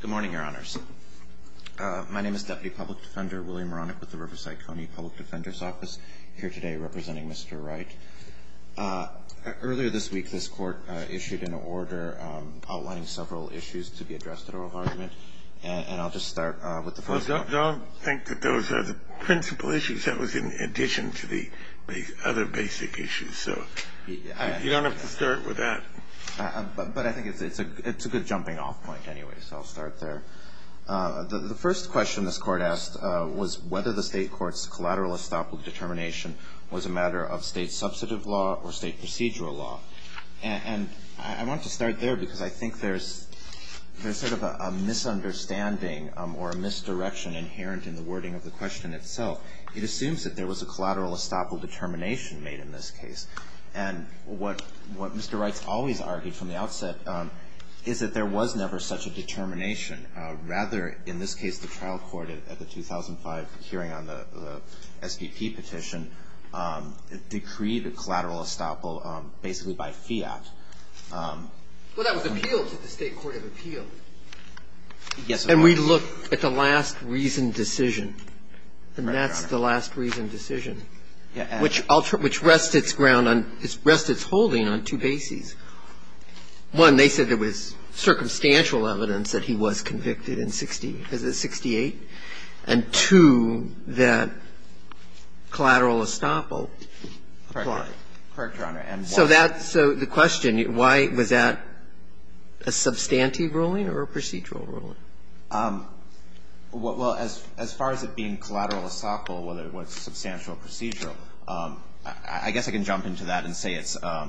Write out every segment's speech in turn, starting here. Good morning, Your Honors. My name is Deputy Public Defender William Ronnick with the Riverside County Public Defender's Office, here today representing Mr. Wright. Earlier this week, this Court issued an order outlining several issues to be addressed at oral argument, and I'll just start with the first one. I don't think that those are the principal issues. That was in addition to the other basic issues, so you don't have to start with that. But I think it's a good jumping off point anyway, so I'll start there. The first question this Court asked was whether the state court's collateral estoppel determination was a matter of state substantive law or state procedural law. And I want to start there because I think there's sort of a misunderstanding or a misdirection inherent in the wording of the question itself. It assumes that there was a collateral estoppel determination made in this case. And what Mr. Wright's always argued from the outset is that there was never such a determination. Rather, in this case, the trial court at the 2005 hearing on the SPP petition decreed a collateral estoppel basically by fiat. Well, that was appealed to the state court of appeal. And we look at the last reasoned decision, and that's the last reasoned decision, which rests its ground on – rests its holding on two bases. One, they said there was circumstantial evidence that he was convicted in 60 – is it 68? And two, that collateral estoppel applied. Correct, Your Honor. So that's the question. Why was that a substantive ruling or a procedural ruling? Well, as far as it being collateral estoppel, whether it was substantial or procedural, I guess I can jump into that and say it's a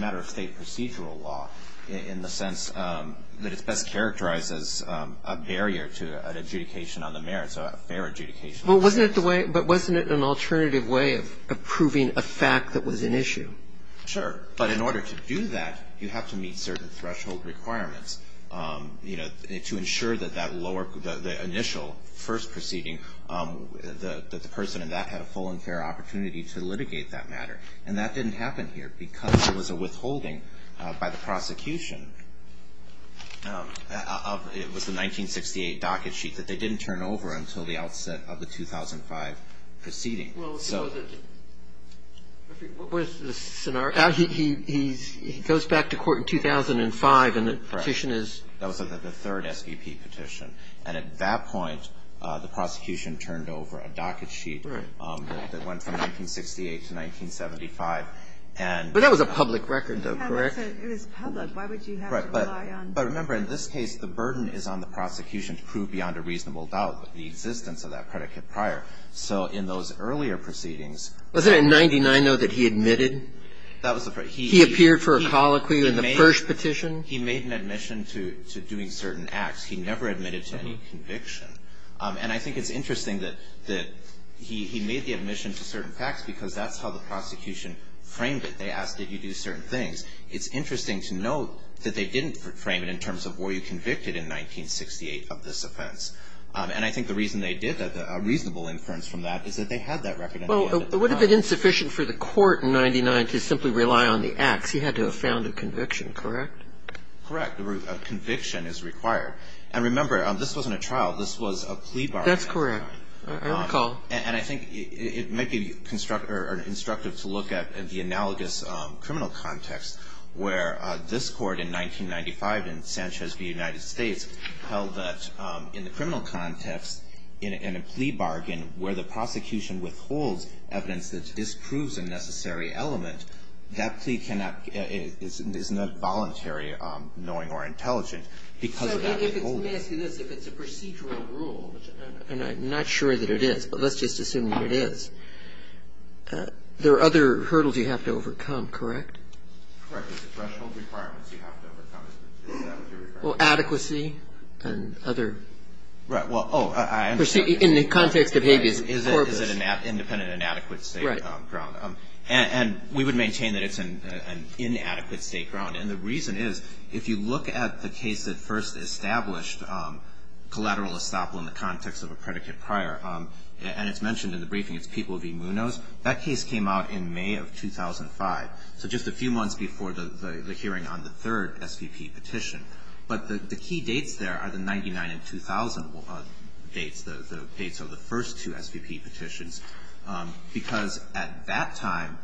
matter of state procedural law in the sense that it's best characterized as a barrier to an adjudication on the merits, a fair adjudication. Well, wasn't it the way – but wasn't it an alternative way of proving a fact that was an issue? Sure. But in order to do that, you have to meet certain threshold requirements, you know, to ensure that that lower – the initial first proceeding, that the person in that had a full and fair opportunity to litigate that matter. And that didn't happen here because there was a withholding by the prosecution of – it was the 1968 docket sheet that they didn't turn over until the outset of the 2005 proceeding. Well, so the – what was the scenario? He goes back to court in 2005 and the petition is – Correct. That was the third SEP petition. And at that point, the prosecution turned over a docket sheet that went from 1968 to 1975. But that was a public record though, correct? It was public. Why would you have to rely on – Right. But remember, in this case, the burden is on the prosecution to prove beyond a reasonable doubt the existence of that predicate prior. So in those earlier proceedings – Wasn't it in 99-0 that he admitted? That was the first – He appeared for a colloquy in the first petition? He made an admission to doing certain acts. He never admitted to any conviction. And I think it's interesting that he made the admission to certain facts because that's how the prosecution framed it. They asked, did you do certain things? It's interesting to note that they didn't frame it in terms of were you convicted in 1968 of this offense. And I think the reason they did that, a reasonable inference from that, is that they had that record. Well, would it have been insufficient for the court in 99 to simply rely on the acts? He had to have found a conviction, correct? Correct. A conviction is required. And remember, this wasn't a trial. This was a plea bargain. That's correct. I recall. And I think it might be constructive to look at the analogous criminal context where this court in 1995 in Sanchez v. United States held that in the criminal context, in a plea bargain where the prosecution withholds evidence that disproves a necessary element, that plea cannot – is not voluntary, knowing or intelligent because of that withholding. So if it's, let me ask you this, if it's a procedural rule, and I'm not sure that it is, but let's just assume that it is, there are other hurdles you have to overcome, correct? Correct. It's the threshold requirements you have to overcome. Is that what you're referring to? Well, adequacy and other. Right. Well, oh, I understand. In the context of habeas corpus. Right. Is it an independent, inadequate state ground? Right. And we would maintain that it's an inadequate state ground. And the reason is, if you look at the case that first established collateral estoppel in the context of a predicate prior, and it's mentioned in the briefing, it's People v. Munoz, that case came out in May of 2005. So just a few months before the hearing on the third SVP petition. But the key dates there are the 1999 and 2000 dates. The dates of the first two SVP petitions. Because at that time,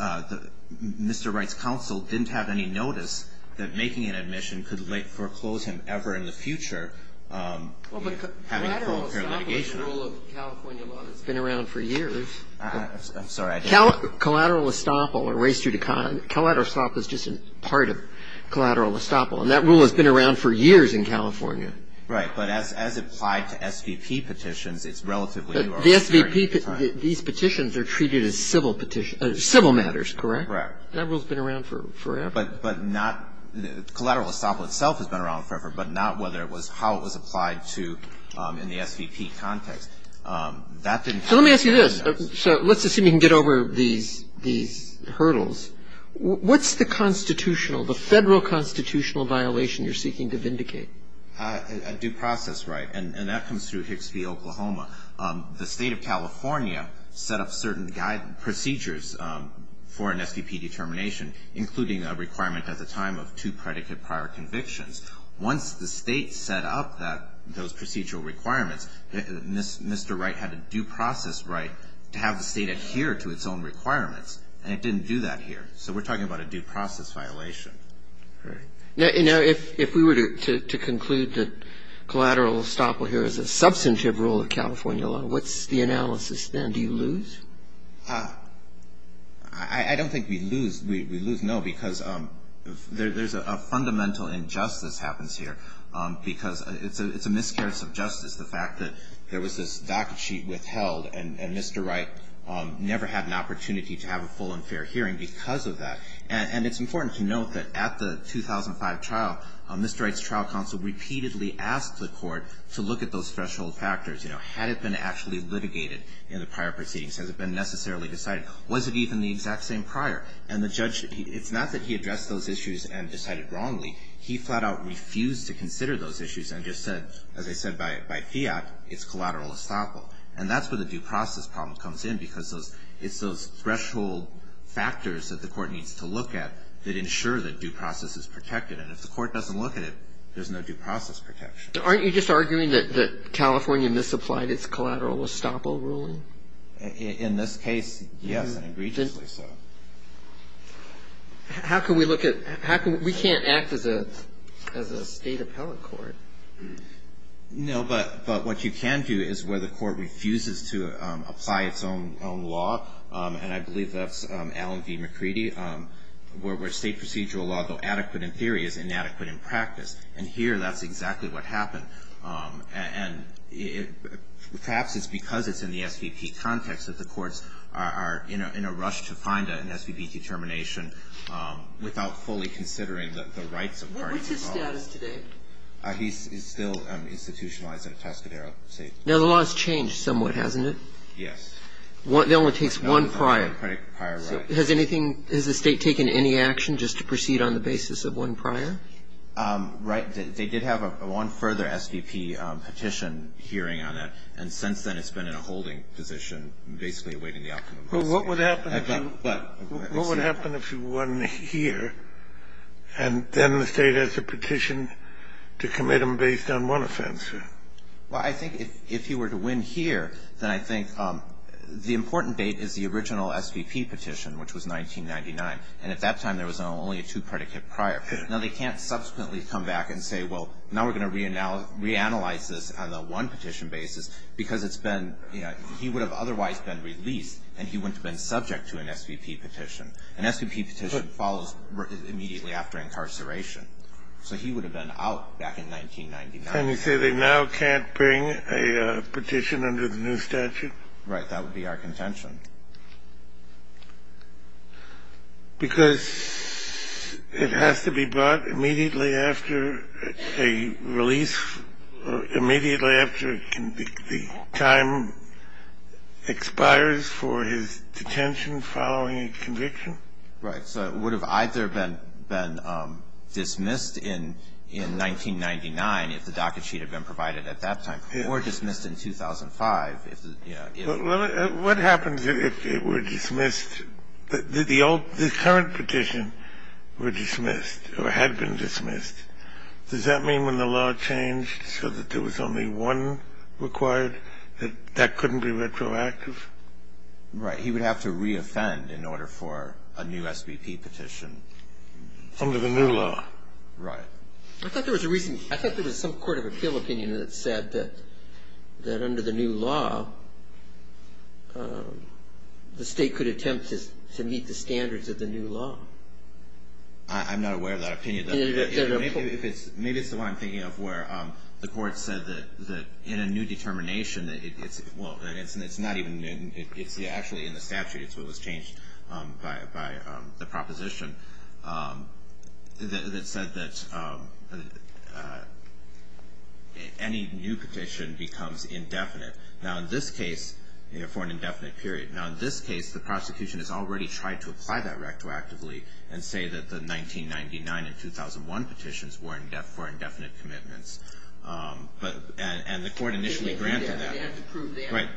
Mr. Wright's counsel didn't have any notice that making an application for collateral estoppel was part of collateral estoppel. And that rule has been around for years in California. Right. But as applied to SVP petitions, it's relatively new. The SVP, these petitions are treated as civil matters, correct? Right. That rule has been around forever. But not, collateral estoppel itself has been around forever, but not whether it's how it was applied to in the SVP context. That didn't happen. So let me ask you this. So let's assume you can get over these hurdles. What's the constitutional, the federal constitutional violation you're seeking to vindicate? A due process right. And that comes through Hicks v. Oklahoma. The state of California set up certain procedures for an SVP determination, including a requirement at the time of two predicate prior convictions. Once the state set up that, those procedural requirements, Mr. Wright had a due process right to have the state adhere to its own requirements. And it didn't do that here. So we're talking about a due process violation. Right. Now, if we were to conclude that collateral estoppel here is a substantive rule of California law, what's the analysis then? Do you lose? I don't think we lose. We lose, no, because there's a fundamental injustice happens here because it's a miscarriage of justice, the fact that there was this docket sheet withheld, and Mr. Wright never had an opportunity to have a full and fair hearing because of that. And it's important to note that at the 2005 trial, Mr. Wright's trial counsel repeatedly asked the court to look at those threshold factors. Had it been actually litigated in the prior proceedings? Has it been necessarily decided? Was it even the exact same prior? And the judge, it's not that he addressed those issues and decided wrongly. He flat out refused to consider those issues and just said, as I said, by fiat, it's collateral estoppel. And that's where the due process problem comes in because it's those threshold factors that the court needs to look at that ensure that due process is protected. And if the court doesn't look at it, there's no due process protection. Aren't you just arguing that California misapplied its collateral estoppel ruling? In this case, yes, and egregiously so. How can we look at – we can't act as a state appellate court. No, but what you can do is where the court refuses to apply its own law, and I believe that's Allen v. McCready, where state procedural law, though adequate in theory, is inadequate in practice. And here, that's exactly what happened. And perhaps it's because it's in the SVP context that the courts are in a rush to find an SVP determination without fully considering the rights of parties involved. What's his status today? He's still institutionalized at Atascadero State. Now, the law has changed somewhat, hasn't it? Yes. It only takes one prior. One prior right. Has anything – has the State taken any action just to proceed on the basis of one prior? Right. They did have one further SVP petition hearing on that, and since then it's been in a holding position, basically awaiting the outcome of the lawsuit. But what would happen if you won here, and then the State has a petition to commit them based on one offense? Well, I think if you were to win here, then I think the important date is the original SVP petition, which was 1999. And at that time, there was only a two-predicate prior. Now, they can't subsequently come back and say, well, now we're going to reanalyze this on a one-petition basis because it's been – he would have otherwise been released and he wouldn't have been subject to an SVP petition. An SVP petition follows immediately after incarceration. So he would have been out back in 1999. And you say they now can't bring a petition under the new statute? Right. That would be our contention. Because it has to be brought immediately after a release or immediately after the time expires for his detention following a conviction? Right. So it would have either been dismissed in 1999, if the docket sheet had been provided at that time, or dismissed in 2005. Well, what happens if it were dismissed? The current petition were dismissed or had been dismissed. Does that mean when the law changed so that there was only one required, that that couldn't be retroactive? Right. He would have to reoffend in order for a new SVP petition. Under the new law. Right. I thought there was a reason. There was an opinion that said that under the new law, the state could attempt to meet the standards of the new law. I'm not aware of that opinion. Maybe it's the one I'm thinking of where the court said that in a new determination that it's not even new. It's actually in the statute. It's what was changed by the proposition that said that any new petition becomes indefinite. Now, in this case, for an indefinite period. Now, in this case, the prosecution has already tried to apply that retroactively and say that the 1999 and 2001 petitions were for indefinite commitments. And the court initially granted that. They have to prove that. Right.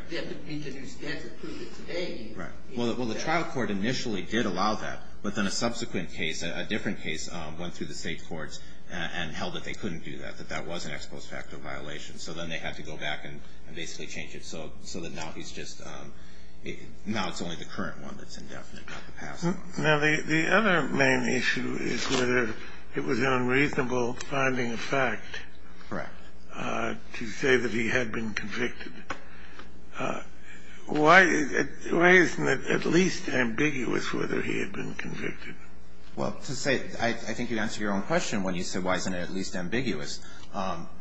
Well, the trial court initially did allow that. But then a subsequent case, a different case, went through the state courts and held that they couldn't do that, that that was an ex post facto violation. So then they had to go back and basically change it so that now he's just now it's only the current one that's indefinite, not the past one. Now, the other main issue is whether it was an unreasonable finding of fact. Correct. To say that he had been convicted. Why isn't it at least ambiguous whether he had been convicted? Well, to say, I think you answered your own question when you said why isn't it at least ambiguous,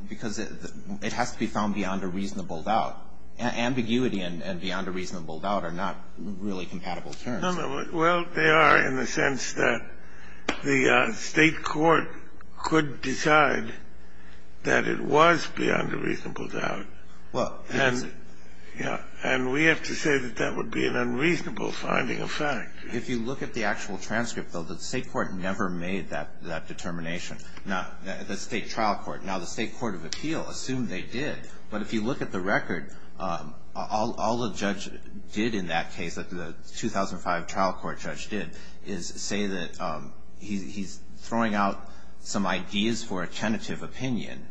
because it has to be found beyond a reasonable doubt. Ambiguity and beyond a reasonable doubt are not really compatible terms. No, no. Well, they are in the sense that the state court could decide that it was beyond a reasonable doubt. And we have to say that that would be an unreasonable finding of fact. If you look at the actual transcript, though, the state court never made that determination, the state trial court. Now, the state court of appeal assumed they did. But if you look at the record, all the judge did in that case, the 2005 trial court judge did, is say that he's throwing out some ideas for a tentative opinion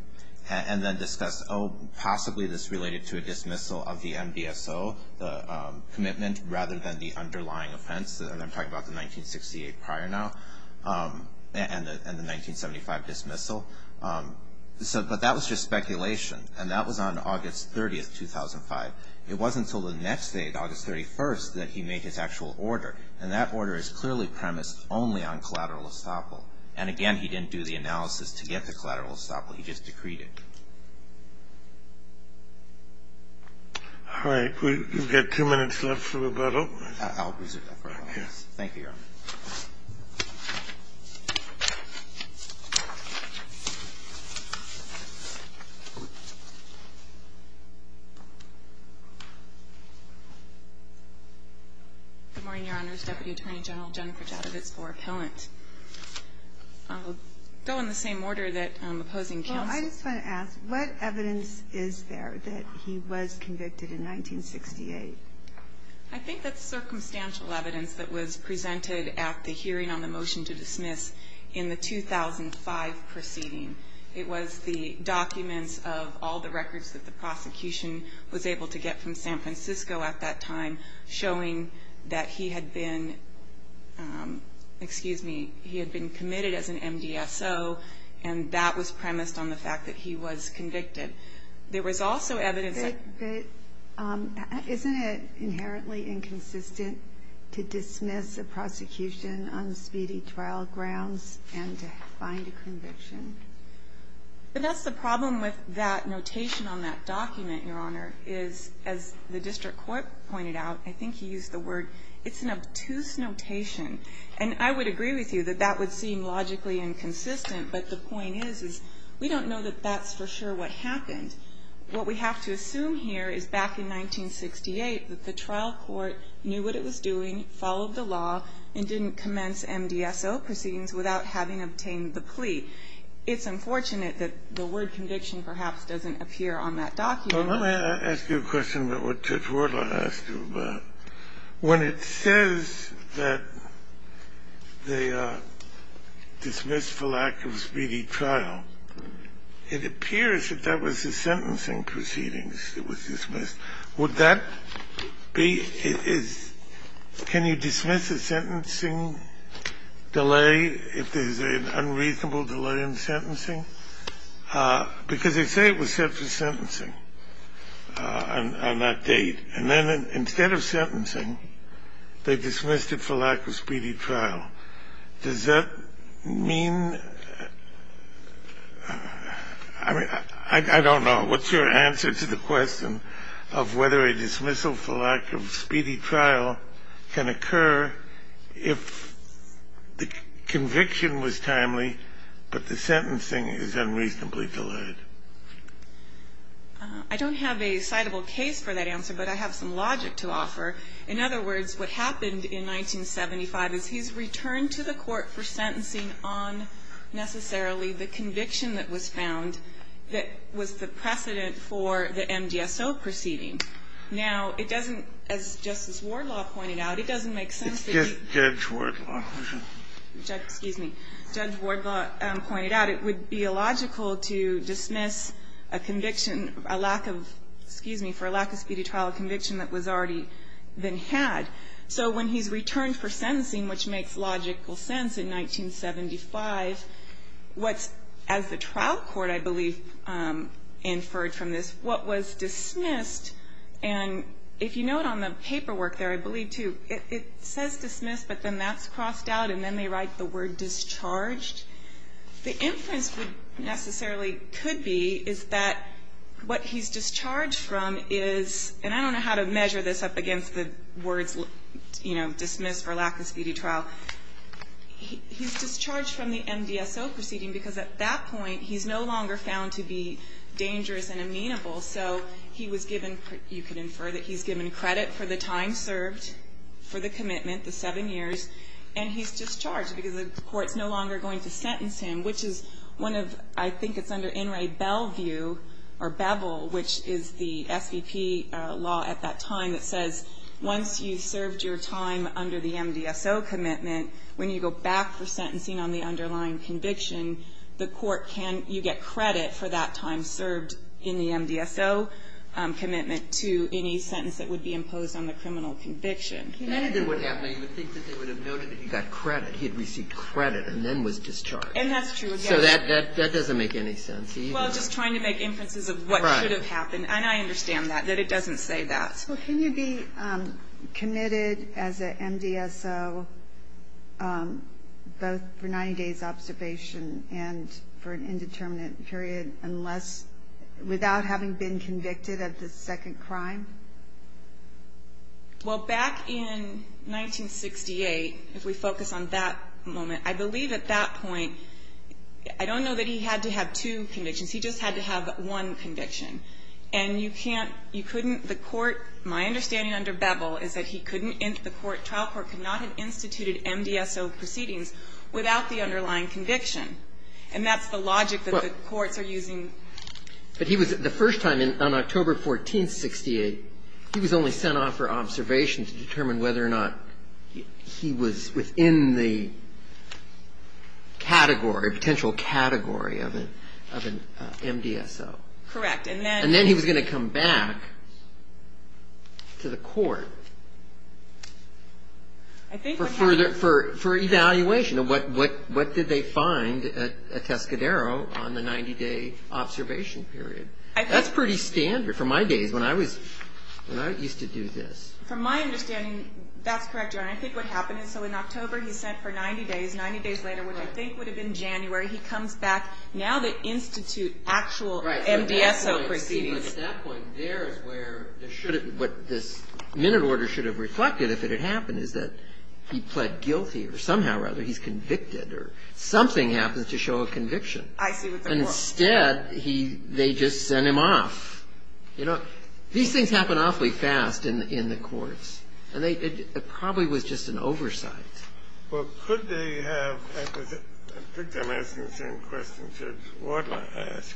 and then discuss, oh, possibly this related to a dismissal of the NDSO, the commitment rather than the underlying offense, and I'm talking about the 1968 prior now, and the 1975 dismissal. But that was just speculation. And that was on August 30th, 2005. It wasn't until the next day, August 31st, that he made his actual order. And that order is clearly premised only on collateral estoppel. And again, he didn't do the analysis to get the collateral estoppel. He just decreed it. All right. We've got two minutes left for rebuttal. I'll reserve that for a moment. Thank you, Your Honor. Good morning, Your Honors. Deputy Attorney General Jennifer Jadovitz for appellant. I'll go in the same order that opposing counsel. Well, I just want to ask, what evidence is there that he was convicted in 1968? I think that's circumstantial evidence that was presented at the hearing on the motion to dismiss in the 2005 proceeding. It was the documents of all the records that the prosecution was able to get from San Francisco District Court. And I think that's circumstantial evidence that he was convicted. He had been committed as an MDSO. And that was premised on the fact that he was convicted. There was also evidence that he was convicted. But isn't it inherently inconsistent to dismiss a prosecution on speedy trial grounds and to find a conviction? But that's the problem with that notation on that document, Your Honor, is as the district court pointed out, I think he used the word, it's an obtuse notation. And I would agree with you that that would seem logically inconsistent. But the point is we don't know that that's for sure what happened. What we have to assume here is back in 1968 that the trial court knew what it was doing, followed the law, and didn't commence MDSO proceedings without having obtained the plea. It's unfortunate that the word conviction perhaps doesn't appear on that document. Kennedy. Let me ask you a question about what Judge Wardle asked you about. When it says that they dismissed for lack of speedy trial, it appears that that was the sentencing proceedings that was dismissed. Would that be, can you dismiss a sentencing delay if there's an unreasonable delay in sentencing? Because they say it was set for sentencing on that date. And then instead of sentencing, they dismissed it for lack of speedy trial. Does that mean, I mean, I don't know. What's your answer to the question of whether a dismissal for lack of speedy trial can occur if the conviction was timely, but the sentencing is unreasonably delayed? I don't have a citable case for that answer, but I have some logic to offer. In other words, what happened in 1975 is he's returned to the court for sentencing on necessarily the conviction that was found that was the precedent for the MDSO proceeding. Now, it doesn't, as Justice Wardle pointed out, it doesn't make sense to be ---- It's Judge Wardle. Excuse me. Judge Wardle pointed out it would be illogical to dismiss a conviction, a lack of, excuse me, for a lack of speedy trial conviction that was already been had. So when he's returned for sentencing, which makes logical sense in 1975, what's, as the trial court, I believe, inferred from this, what was dismissed, and if you note on the paperwork there, I believe, too, it says dismissed, but then that's crossed out, and then they write the word discharged. The inference necessarily could be is that what he's discharged from is, and I don't know how to measure this up against the words, you know, dismissed for lack of speedy trial. He's discharged from the MDSO proceeding because at that point he's no longer found to be dangerous and amenable, so he was given, you could infer that he's given credit for the time served for the commitment, the seven years, and he's discharged because the court's no longer going to sentence him, which is one of, I think it's under In re Beville, or Beville, which is the SVP law at that time that says once you've served your time under the MDSO commitment, when you go back for sentencing on the underlying conviction, the court can, you get credit for that time served in the MDSO commitment to any sentence that would be imposed on the criminal conviction. He got credit. He had received credit and then was discharged. And that's true. So that doesn't make any sense. Well, just trying to make inferences of what should have happened, and I understand that, that it doesn't say that. Well, can you be committed as an MDSO both for 90 days observation and for an indeterminate period unless, without having been convicted of the second crime? Well, back in 1968, if we focus on that moment, I believe at that point, I don't know that he had to have two convictions. He just had to have one conviction. And you can't, you couldn't, the court, my understanding under Beville is that he couldn't, the court, trial court could not have instituted MDSO proceedings without the underlying conviction. And that's the logic that the courts are using. But he was, the first time on October 14th, 68, he was only sent off for observation to determine whether or not he was within the category, potential category of an MDSO. Correct. And then he was going to come back to the court for further, for evaluation of what did they find at Tescadero on the 90-day observation period. That's pretty standard for my days when I was, when I used to do this. From my understanding, that's correct, Your Honor. I think what happened is, so in October, he's sent for 90 days. Ninety days later, which I think would have been January, he comes back. Now they institute actual MDSO proceedings. Right. But that point, that point there is where there shouldn't, what this minute order should have reflected if it had happened is that he pled guilty, or somehow or other he's convicted, or something happens to show a conviction. I see what they're talking about. And instead, he, they just send him off. You know, these things happen awfully fast in the courts. And they, it probably was just an oversight. Well, could they have, I think I'm asking the same question Judge Wardle asked.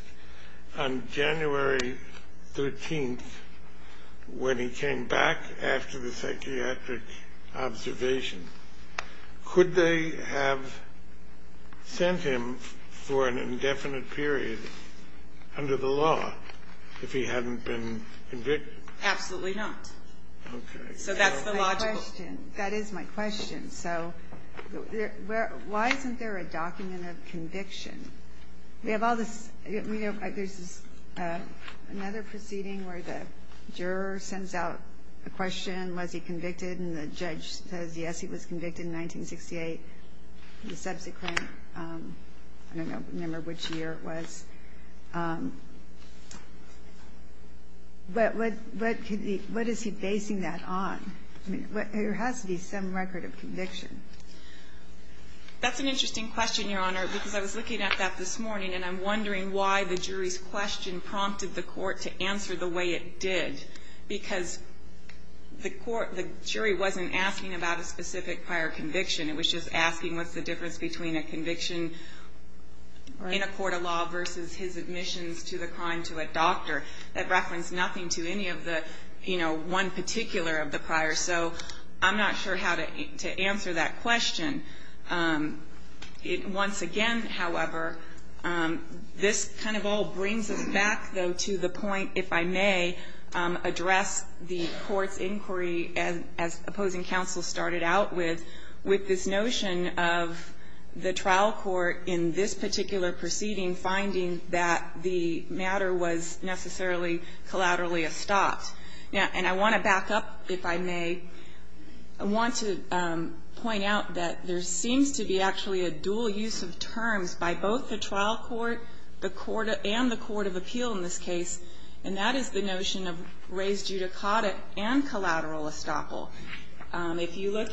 On January 13th, when he came back after the psychiatric observation, could they have sent him for an indefinite period under the law if he hadn't been convicted? Absolutely not. Okay. So that's the logical. My question, that is my question. So why isn't there a document of conviction? We have all this, we have, there's this, another proceeding where the juror sends out a question, was he convicted, and the judge says, yes, he was convicted in 1968. The subsequent, I don't remember which year it was. But what is he basing that on? I mean, there has to be some record of conviction. That's an interesting question, Your Honor, because I was looking at that this morning, and I'm wondering why the jury's question prompted the court to answer the way it did. Because the jury wasn't asking about a specific prior conviction. It was just asking what's the difference between a conviction in a court of law versus his admissions to the crime to a doctor. That referenced nothing to any of the, you know, one particular of the prior. So I'm not sure how to answer that question. Once again, however, this kind of all brings us back, though, to the point, if I may, address the court's inquiry as opposing counsel started out with, with this notion of the trial court in this particular proceeding finding that the matter was necessarily collaterally a stop. And I want to back up, if I may. I want to point out that there seems to be actually a dual use of terms by both the trial court, the court, and the court of appeal in this case. And that is the notion of raised judicata and collateral estoppel. If you look,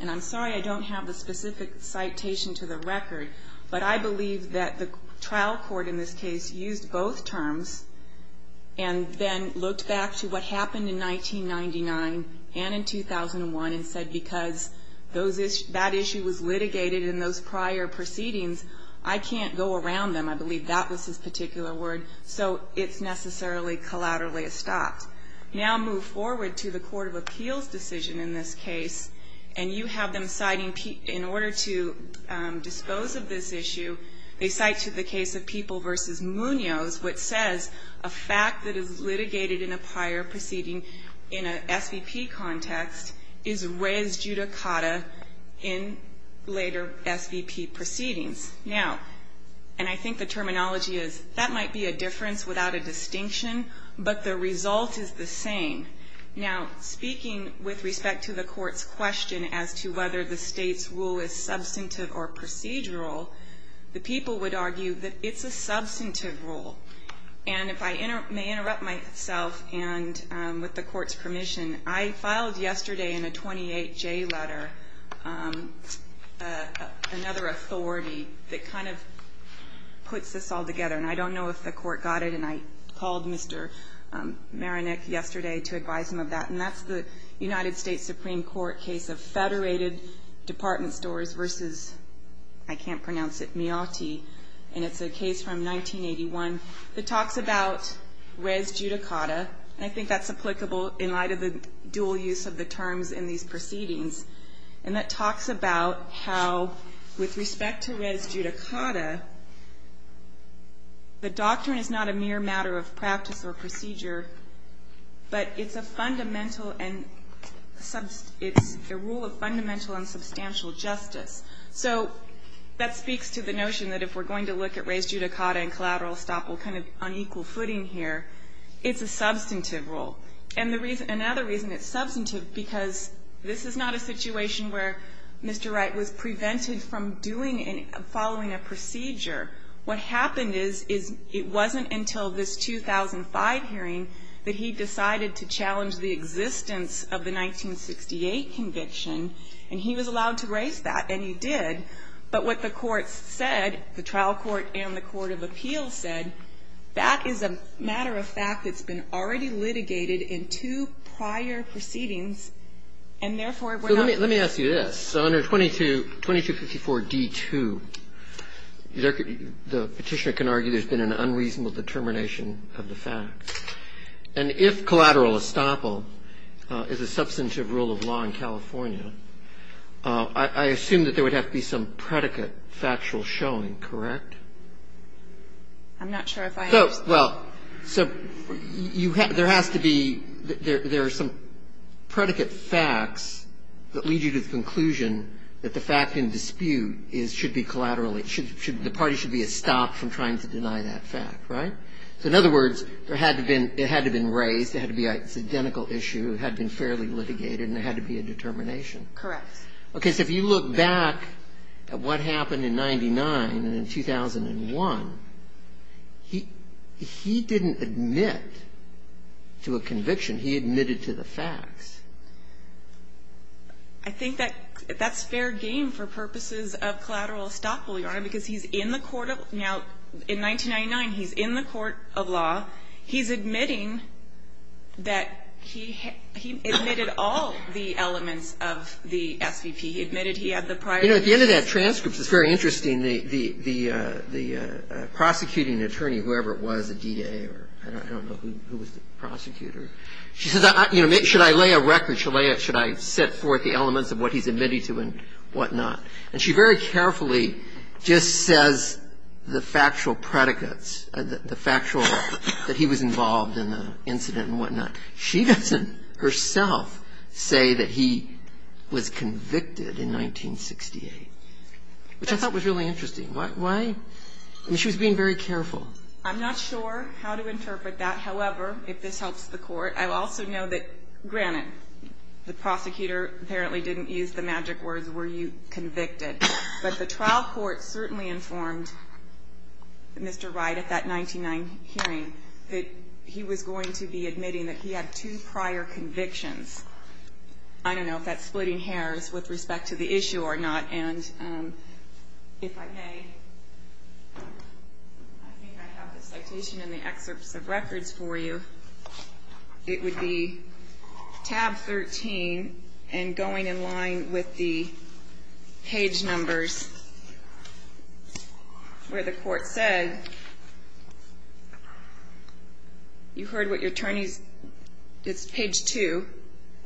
and I'm sorry I don't have the specific citation to the record, but I believe that the trial court in this case used both terms and then looked back to what happened in 1999 and in 2001 and said because that issue was litigated in those prior proceedings, I can't go around them. I believe that was his particular word. So it's necessarily collaterally a stop. Now move forward to the court of appeals decision in this case, and you have them citing, in order to dispose of this issue, they cite to the case of People v. Munoz what says a fact that is litigated in a prior proceeding in an SVP context is raised judicata in later SVP proceedings. Now, and I think the terminology is that might be a difference without a distinction, but the result is the same. Now, speaking with respect to the court's question as to whether the State's rule is substantive or procedural, the people would argue that it's a substantive rule. And if I may interrupt myself and with the court's permission, I filed yesterday in a 28-J letter another authority that kind of puts this all together. And I don't know if the court got it, and I called Mr. Maronick yesterday to advise him of that. And that's the United States Supreme Court case of federated department stores versus, I can't pronounce it, Mioti. And it's a case from 1981 that talks about res judicata. And I think that's applicable in light of the dual use of the terms in these proceedings. And that talks about how with respect to res judicata, the doctrine is not a mere matter of practice or procedure, but it's a fundamental and it's a rule of fundamental and substantial justice. So that speaks to the notion that if we're going to look at res judicata and collateral estoppel kind of on equal footing here, it's a substantive rule. And another reason it's substantive, because this is not a situation where Mr. Wright was prevented from doing and following a procedure. What happened is, is it wasn't until this 2005 hearing that he decided to challenge the existence of the 1968 conviction, and he was allowed to raise that, and he did. But what the courts said, the trial court and the court of appeals said, that is a matter of fact that's been already litigated in two prior proceedings, and therefore we're not going to do it. Roberts. Let me ask you this. Under 2254d2, the Petitioner can argue there's been an unreasonable determination of the facts. And if collateral estoppel is a substantive rule of law in California, I assume that there would have to be some predicate factual showing, correct? I'm not sure if I have. Well, so there has to be, there are some predicate facts that lead you to the conclusion that the fact in dispute should be collateral. The party should be a stop from trying to deny that fact, right? So in other words, it had to have been raised, it had to be an identical issue, it had to have been fairly litigated, and there had to be a determination. Correct. Okay. So if you look back at what happened in 99 and in 2001, he didn't admit to a conviction. He admitted to the facts. I think that that's fair game for purposes of collateral estoppel, Your Honor, because he's in the court of law. Now, in 1999, he's in the court of law. He's admitting that he admitted all the elements of the SVP. He admitted he had the prior. You know, at the end of that transcript, it's very interesting. The prosecuting attorney, whoever it was, a DA or I don't know who was the prosecutor, she says, you know, should I lay a record? Should I set forth the elements of what he's admitted to and whatnot? And she very carefully just says the factual predicates, the factual that he was involved in the incident and whatnot. She doesn't herself say that he was convicted in 1968, which I thought was really interesting. Why? I mean, she was being very careful. I'm not sure how to interpret that. The prosecutor apparently didn't use the magic words, were you convicted? But the trial court certainly informed Mr. Wright at that 1999 hearing that he was going to be admitting that he had two prior convictions. I don't know if that's splitting hairs with respect to the issue or not. And if I may, I think I have the citation in the excerpts of records for you. It would be tab 13 and going in line with the page numbers where the court said, you heard what your attorneys, it's page 2,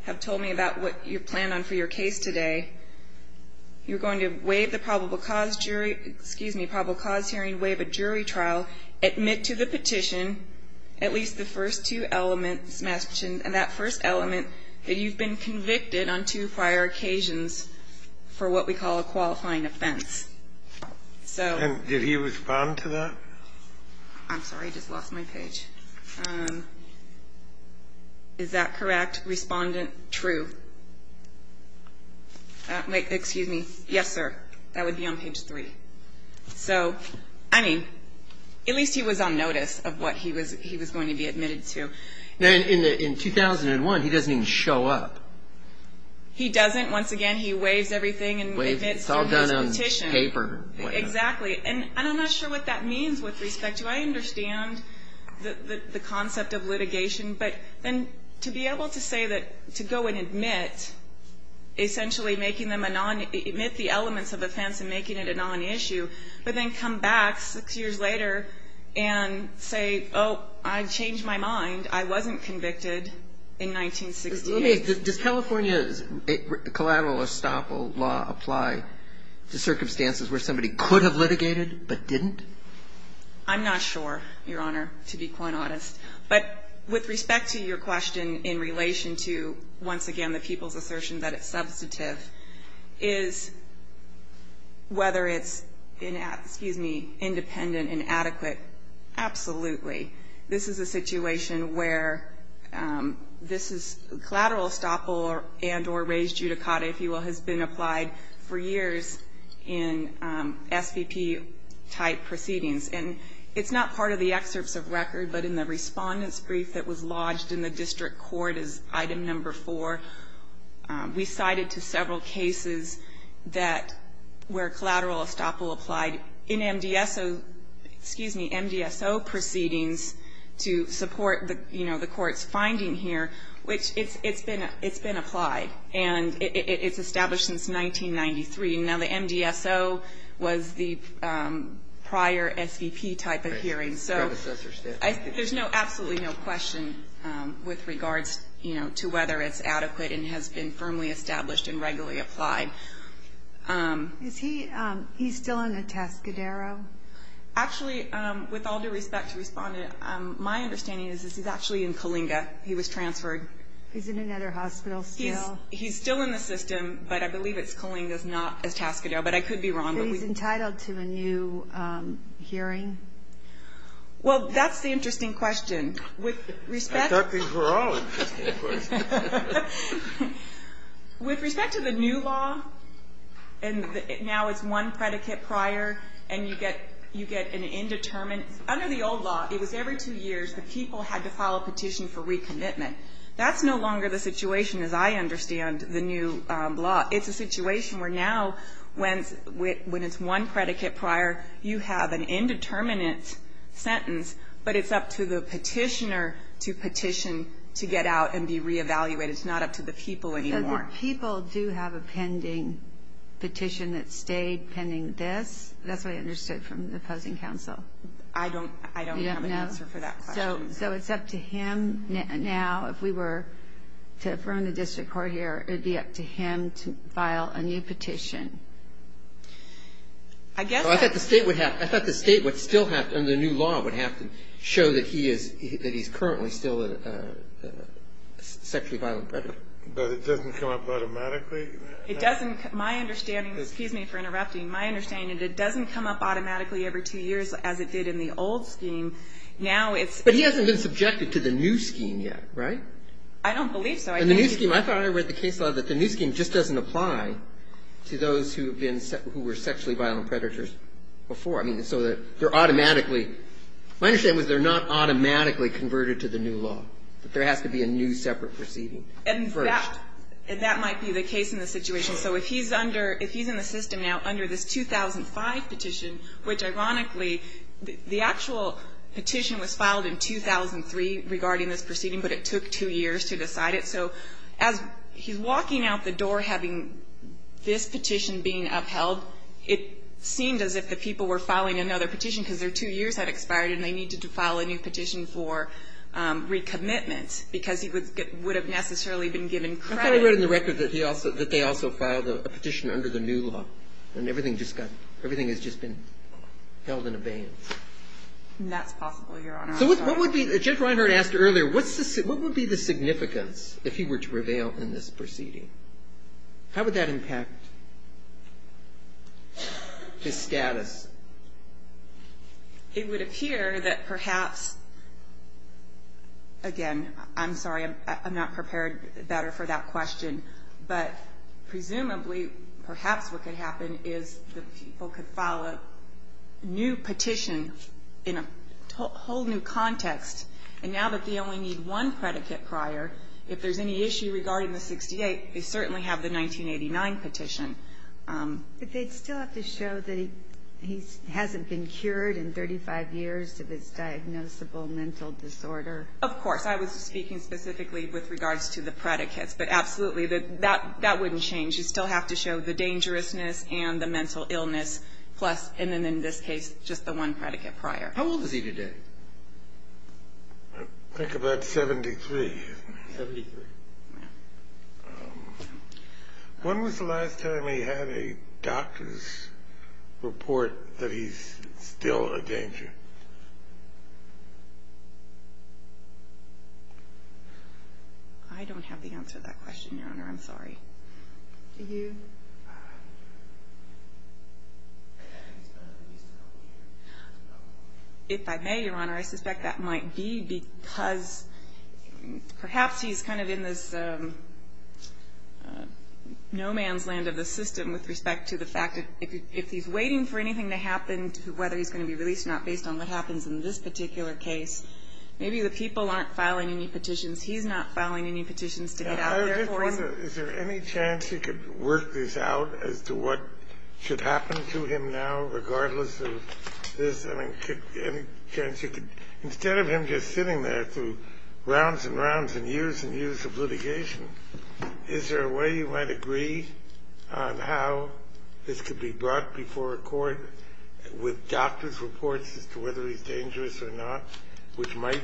have told me about what you plan on for your case today. You're going to waive the probable cause hearing, waive a jury trial, admit to the petition, at least the first two elements mentioned, and that first element, that you've been convicted on two prior occasions for what we call a qualifying offense. So. And did he respond to that? I'm sorry. I just lost my page. Is that correct? Respondent, true. Excuse me. Yes, sir. That would be on page 3. So, I mean, at least he was on notice of what he was going to be admitted to. Now, in 2001, he doesn't even show up. He doesn't. Once again, he waives everything and admits to his petition. It's all done on paper. Exactly. And I'm not sure what that means with respect to, I understand the concept of litigation, but then to be able to say that, to go and admit, essentially making them, admit the elements of offense and making it a non-issue, but then come back six years later and say, oh, I changed my mind. I wasn't convicted in 1968. Does California's collateral estoppel law apply to circumstances where somebody could have litigated but didn't? I'm not sure, Your Honor, to be quite honest. But with respect to your question in relation to, once again, the people's assertion that it's substantive, is whether it's, excuse me, independent and adequate, absolutely. This is a situation where this collateral estoppel and or raised judicata, if you will, has been applied for years in SVP-type proceedings. And it's not part of the excerpts of record, but in the respondent's brief that was lodged in the district court as item number four, we cited to several cases that where collateral estoppel applied in MDSO, excuse me, MDSO proceedings to support the court's finding here, which it's been applied. And it's established since 1993. Now, the MDSO was the prior SVP-type of hearing. So there's absolutely no question with regards to whether it's adequate and has been firmly established and regularly applied. Is he still in a taskadero? Actually, with all due respect to respondent, my understanding is that he's actually in Kalinga. He was transferred. He's in another hospital still? He's still in the system, but I believe it's Kalinga, not a taskadero. But I could be wrong. But he's entitled to a new hearing? Well, that's the interesting question. With respect to the new law, and now it's one predicate prior, and you get an indeterminate Under the old law, it was every two years the people had to file a petition for recommitment. That's no longer the situation, as I understand the new law. It's a situation where now when it's one predicate prior, you have an indeterminate sentence, but it's up to the petitioner to petition to get out and be reevaluated. It's not up to the people anymore. So the people do have a pending petition that stayed pending this? That's what I understood from the opposing counsel. I don't have an answer for that question. So it's up to him now if we were to affirm the district court here. It would be up to him to file a new petition. I thought the state would still have to, under the new law, would have to show that he's currently still a sexually violent predator. But it doesn't come up automatically? It doesn't. My understanding, excuse me for interrupting, my understanding is it doesn't come up automatically every two years as it did in the old scheme. Now it's But he hasn't been subjected to the new scheme yet, right? I don't believe so. In the new scheme, I thought I read the case law that the new scheme just doesn't apply to those who have been, who were sexually violent predators before. I mean, so they're automatically My understanding was they're not automatically converted to the new law. There has to be a new separate proceeding first. And that might be the case in this situation. So if he's under, if he's in the system now under this 2005 petition, which ironically, the actual petition was filed in 2003 regarding this proceeding, but it took two years to decide it. So as he's walking out the door having this petition being upheld, it seemed as if the people were filing another petition because their two years had expired and they needed to file a new petition for recommitment because he would have necessarily been given credit. I thought he wrote in the record that he also, that they also filed a petition under the new law. And everything just got, everything has just been held in abeyance. That's possible, Your Honor. So what would be, Judge Reinhart asked earlier, what would be the significance if he were to prevail in this proceeding? How would that impact his status? It would appear that perhaps, again, I'm sorry, I'm not prepared better for that question, but presumably perhaps what could happen is that people could file a new petition in a whole new context. And now that they only need one predicate prior, if there's any issue regarding the 68, they certainly have the 1989 petition. But they'd still have to show that he hasn't been cured in 35 years of his diagnosable mental disorder. Of course. I was speaking specifically with regards to the predicates. But absolutely, that wouldn't change. You'd still have to show the dangerousness and the mental illness plus, and then in this case, just the one predicate prior. How old is he today? I think about 73. Seventy-three. When was the last time he had a doctor's report that he's still a danger? I don't have the answer to that question, Your Honor. I'm sorry. Do you? If I may, Your Honor, I suspect that might be because perhaps he's kind of in this no man's land of the system with respect to the fact that if he's waiting for anything to happen, whether he's going to be released or not, based on what happens in this particular case, maybe the people aren't filing any petitions. He's not filing any petitions to get out of there for him. Is there any chance you could work this out as to what should happen to him now, regardless of this? I mean, could any chance you could, instead of him just sitting there through Is there a way you might agree on how this could be brought before a court with doctor's reports as to whether he's dangerous or not, which might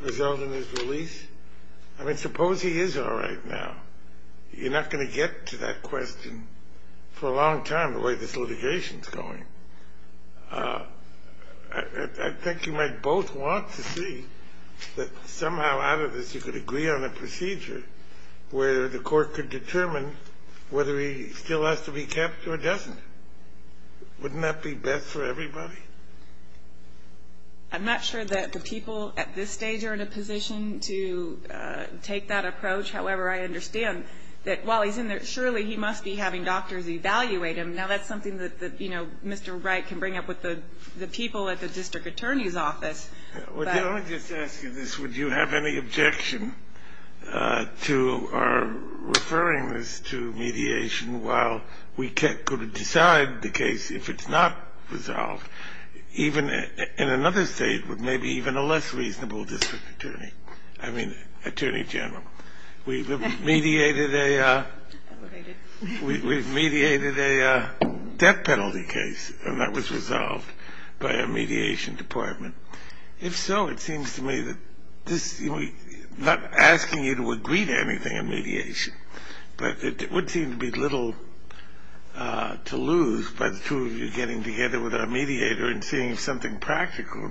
result in his release? I mean, suppose he is all right now. You're not going to get to that question for a long time, the way this litigation is going. I think you might both want to see that somehow out of this you could agree on a procedure where the court could determine whether he still has to be kept or doesn't. Wouldn't that be best for everybody? I'm not sure that the people at this stage are in a position to take that approach. However, I understand that while he's in there, surely he must be having doctors evaluate him. Now, that's something that, you know, Mr. Wright can bring up with the people at the district attorney's office. Let me just ask you this. Would you have any objection to our referring this to mediation while we could have decided the case, if it's not resolved, even in another state with maybe even a less reasonable district attorney? I mean, attorney general. We've mediated a death penalty case, and that was resolved by a mediation department. If so, it seems to me that this is not asking you to agree to anything in mediation, but it would seem to be little to lose by the two of you getting together with our mediator and seeing if something practical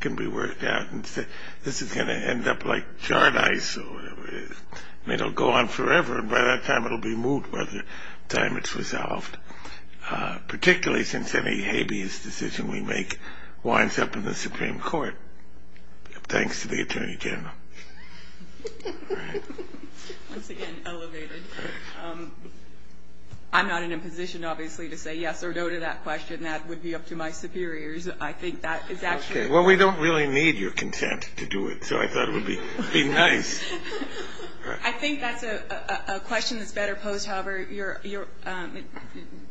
can be worked out and say this is going to end up like this. I mean, it'll go on forever, and by that time, it'll be moved by the time it's resolved, particularly since any habeas decision we make winds up in the Supreme Court, thanks to the attorney general. All right. Once again, elevated. I'm not in a position, obviously, to say yes or no to that question. That would be up to my superiors. I think that is actually... Okay. Well, we don't really need your consent to do it, so I thought it would be nice. I think that's a question that's better posed, however,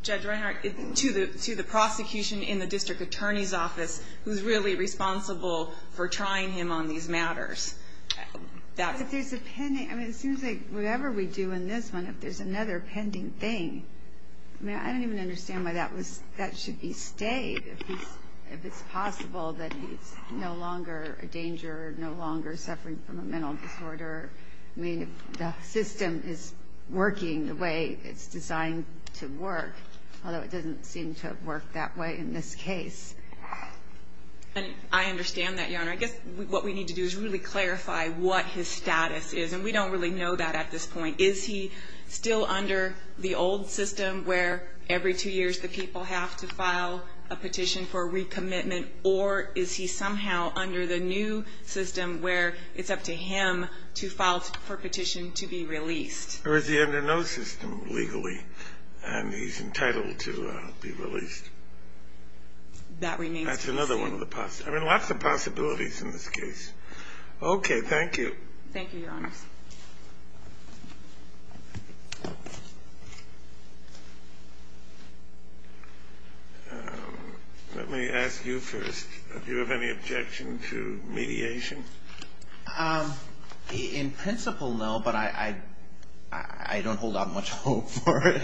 Judge Reinhart, to the prosecution in the district attorney's office who's really responsible for trying him on these matters. If there's a pending... I mean, it seems like whatever we do in this one, if there's another pending thing, I mean, I don't even understand why that should be stayed, if it's possible that he's no longer a danger, no longer suffering from a mental disorder. I mean, if the system is working the way it's designed to work, although it doesn't seem to have worked that way in this case. I understand that, Your Honor. I guess what we need to do is really clarify what his status is, and we don't really know that at this point. Is he still under the old system where every two years the people have to file a petition for recommitment, or is he somehow under the new system where it's up to him to file for a petition to be released? Or is he under no system legally, and he's entitled to be released? That remains to be seen. That's another one of the possibilities. I mean, lots of possibilities in this case. Okay, thank you. Thank you, Your Honors. Let me ask you first, do you have any objection to mediation? In principle, no, but I don't hold out much hope for it,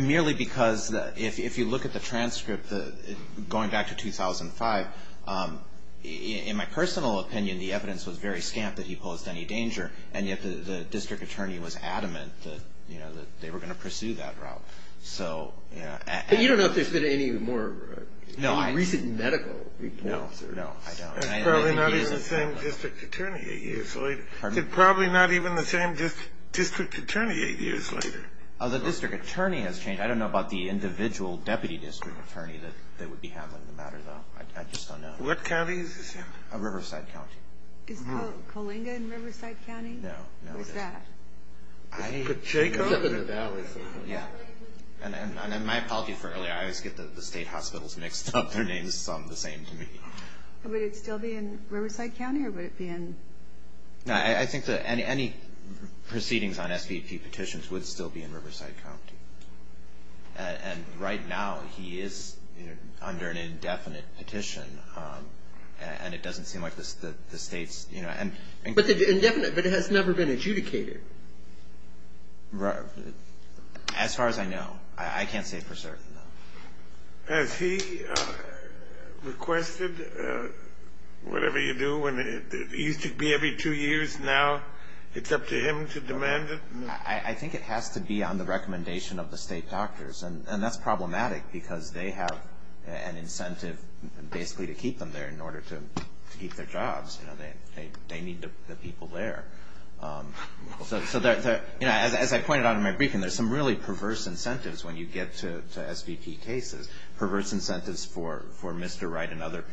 merely because if you look at the transcript going back to 2005, in my personal opinion, the evidence was very scant that he posed any danger, and yet the district attorney was adamant that they were going to pursue that route. But you don't know if there's been any more recent medical reports? No, no, I don't. Probably not even the same district attorney eight years later. Pardon me? Probably not even the same district attorney eight years later. Oh, the district attorney has changed. I don't know about the individual deputy district attorney that would be handling the matter, though. I just don't know. What county is this in? Riverside County. Is Coalinga in Riverside County? No, no. Who is that? Jacob. And my apology for earlier, I always get the state hospitals mixed up. Their names sound the same to me. Would it still be in Riverside County, or would it be in? I think that any proceedings on SBP petitions would still be in Riverside County. And right now he is under an indefinite petition, and it doesn't seem like the state's... But it has never been adjudicated. As far as I know. I can't say for certain, though. Has he requested whatever you do? It used to be every two years. Now it's up to him to demand it? I think it has to be on the recommendation of the state doctors, and that's problematic because they have an incentive basically to keep them there in order to keep their jobs. They need the people there. As I pointed out in my briefing, there's some really perverse incentives when you get to SBP cases, perverse incentives for Mr. Wright and other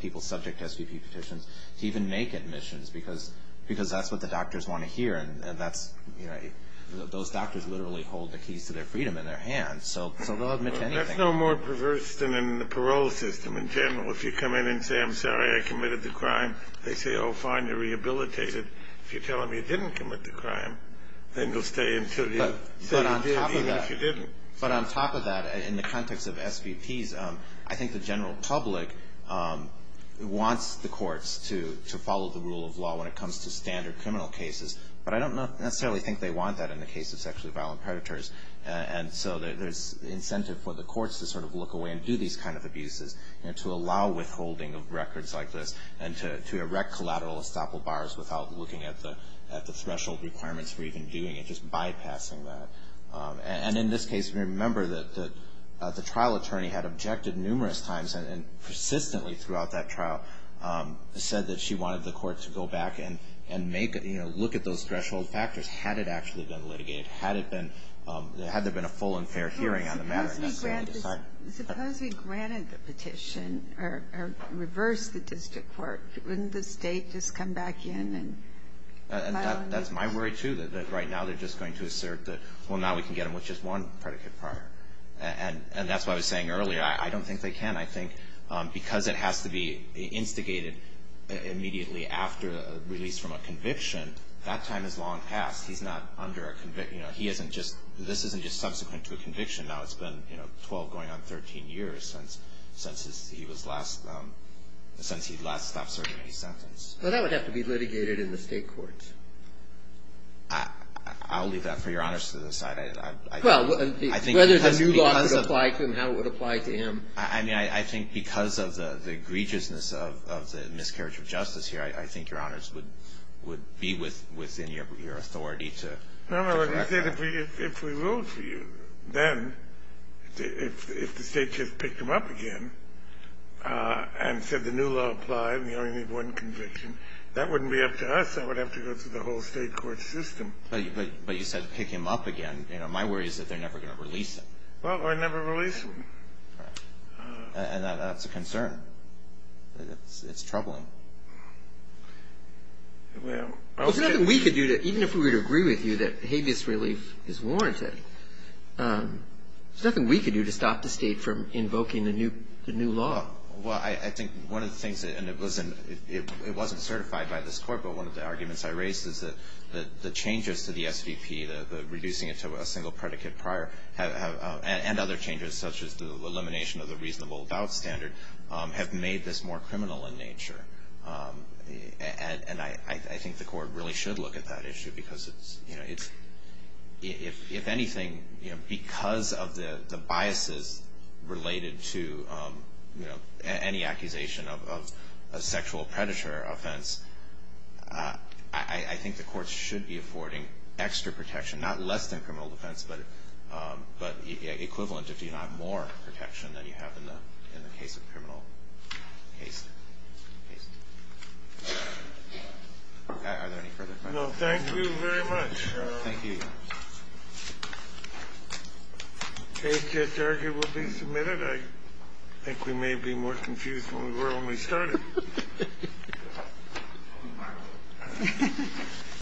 people subject to SBP petitions to even make admissions because that's what the doctors want to hear, and those doctors literally hold the keys to their freedom in their hands. So they'll admit to anything. That's no more perverse than in the parole system in general. If you come in and say, I'm sorry, I committed the crime, they say, oh, fine, you're rehabilitated. If you tell them you didn't commit the crime, then you'll stay until you say you did, even if you didn't. But on top of that, in the context of SVPs, I think the general public wants the courts to follow the rule of law when it comes to standard criminal cases, but I don't necessarily think they want that in the case of sexually violent predators. And so there's incentive for the courts to sort of look away and do these kind of abuses, to allow withholding of records like this and to erect collateral estoppel bars without looking at the threshold requirements for even doing it, just bypassing that. And in this case, remember that the trial attorney had objected numerous times and persistently throughout that trial said that she wanted the court to go back and look at those threshold factors, had it actually been litigated, had there been a full and fair hearing on the matter. Suppose we granted the petition or reversed the district court. Wouldn't the state just come back in and... That's my worry, too, that right now they're just going to assert that, well, now we can get them with just one predicate prior. And that's what I was saying earlier. I don't think they can. I think because it has to be instigated immediately after a release from a conviction, that time has long passed. He's not under a conviction. This isn't just subsequent to a conviction. Now, it's been 12 going on 13 years since he last served a sentence. Well, that would have to be litigated in the state courts. I'll leave that for Your Honors to decide. Well, whether the new law would apply to him, how it would apply to him. I mean, I think because of the egregiousness of the miscarriage of justice here, I think Your Honors would be within your authority to correct that. No, no. If we ruled for you, then if the state just picked him up again and said the new law applied and you only need one conviction, that wouldn't be up to us. That would have to go through the whole state court system. But you said pick him up again. My worry is that they're never going to release him. Well, we'll never release him. And that's a concern. It's troubling. Well, okay. There's nothing we could do to, even if we were to agree with you that habeas relief is warranted, there's nothing we could do to stop the state from invoking the new law. Well, I think one of the things, and listen, it wasn't certified by this court, but one of the arguments I raised is that the changes to the SVP, the reducing it to a single predicate prior, and other changes such as the elimination of the reasonable doubt standard, have made this more criminal in nature. And I think the court really should look at that issue because it's, if anything, because of the biases related to any accusation of a sexual predator offense, I think the courts should be affording extra protection, not less than criminal defense, but equivalent if you have more protection than you have in the case of criminal case. Are there any further questions? No. Thank you very much. Thank you. The case just arguably submitted. I think we may be more confused than we were when we started. Thank you.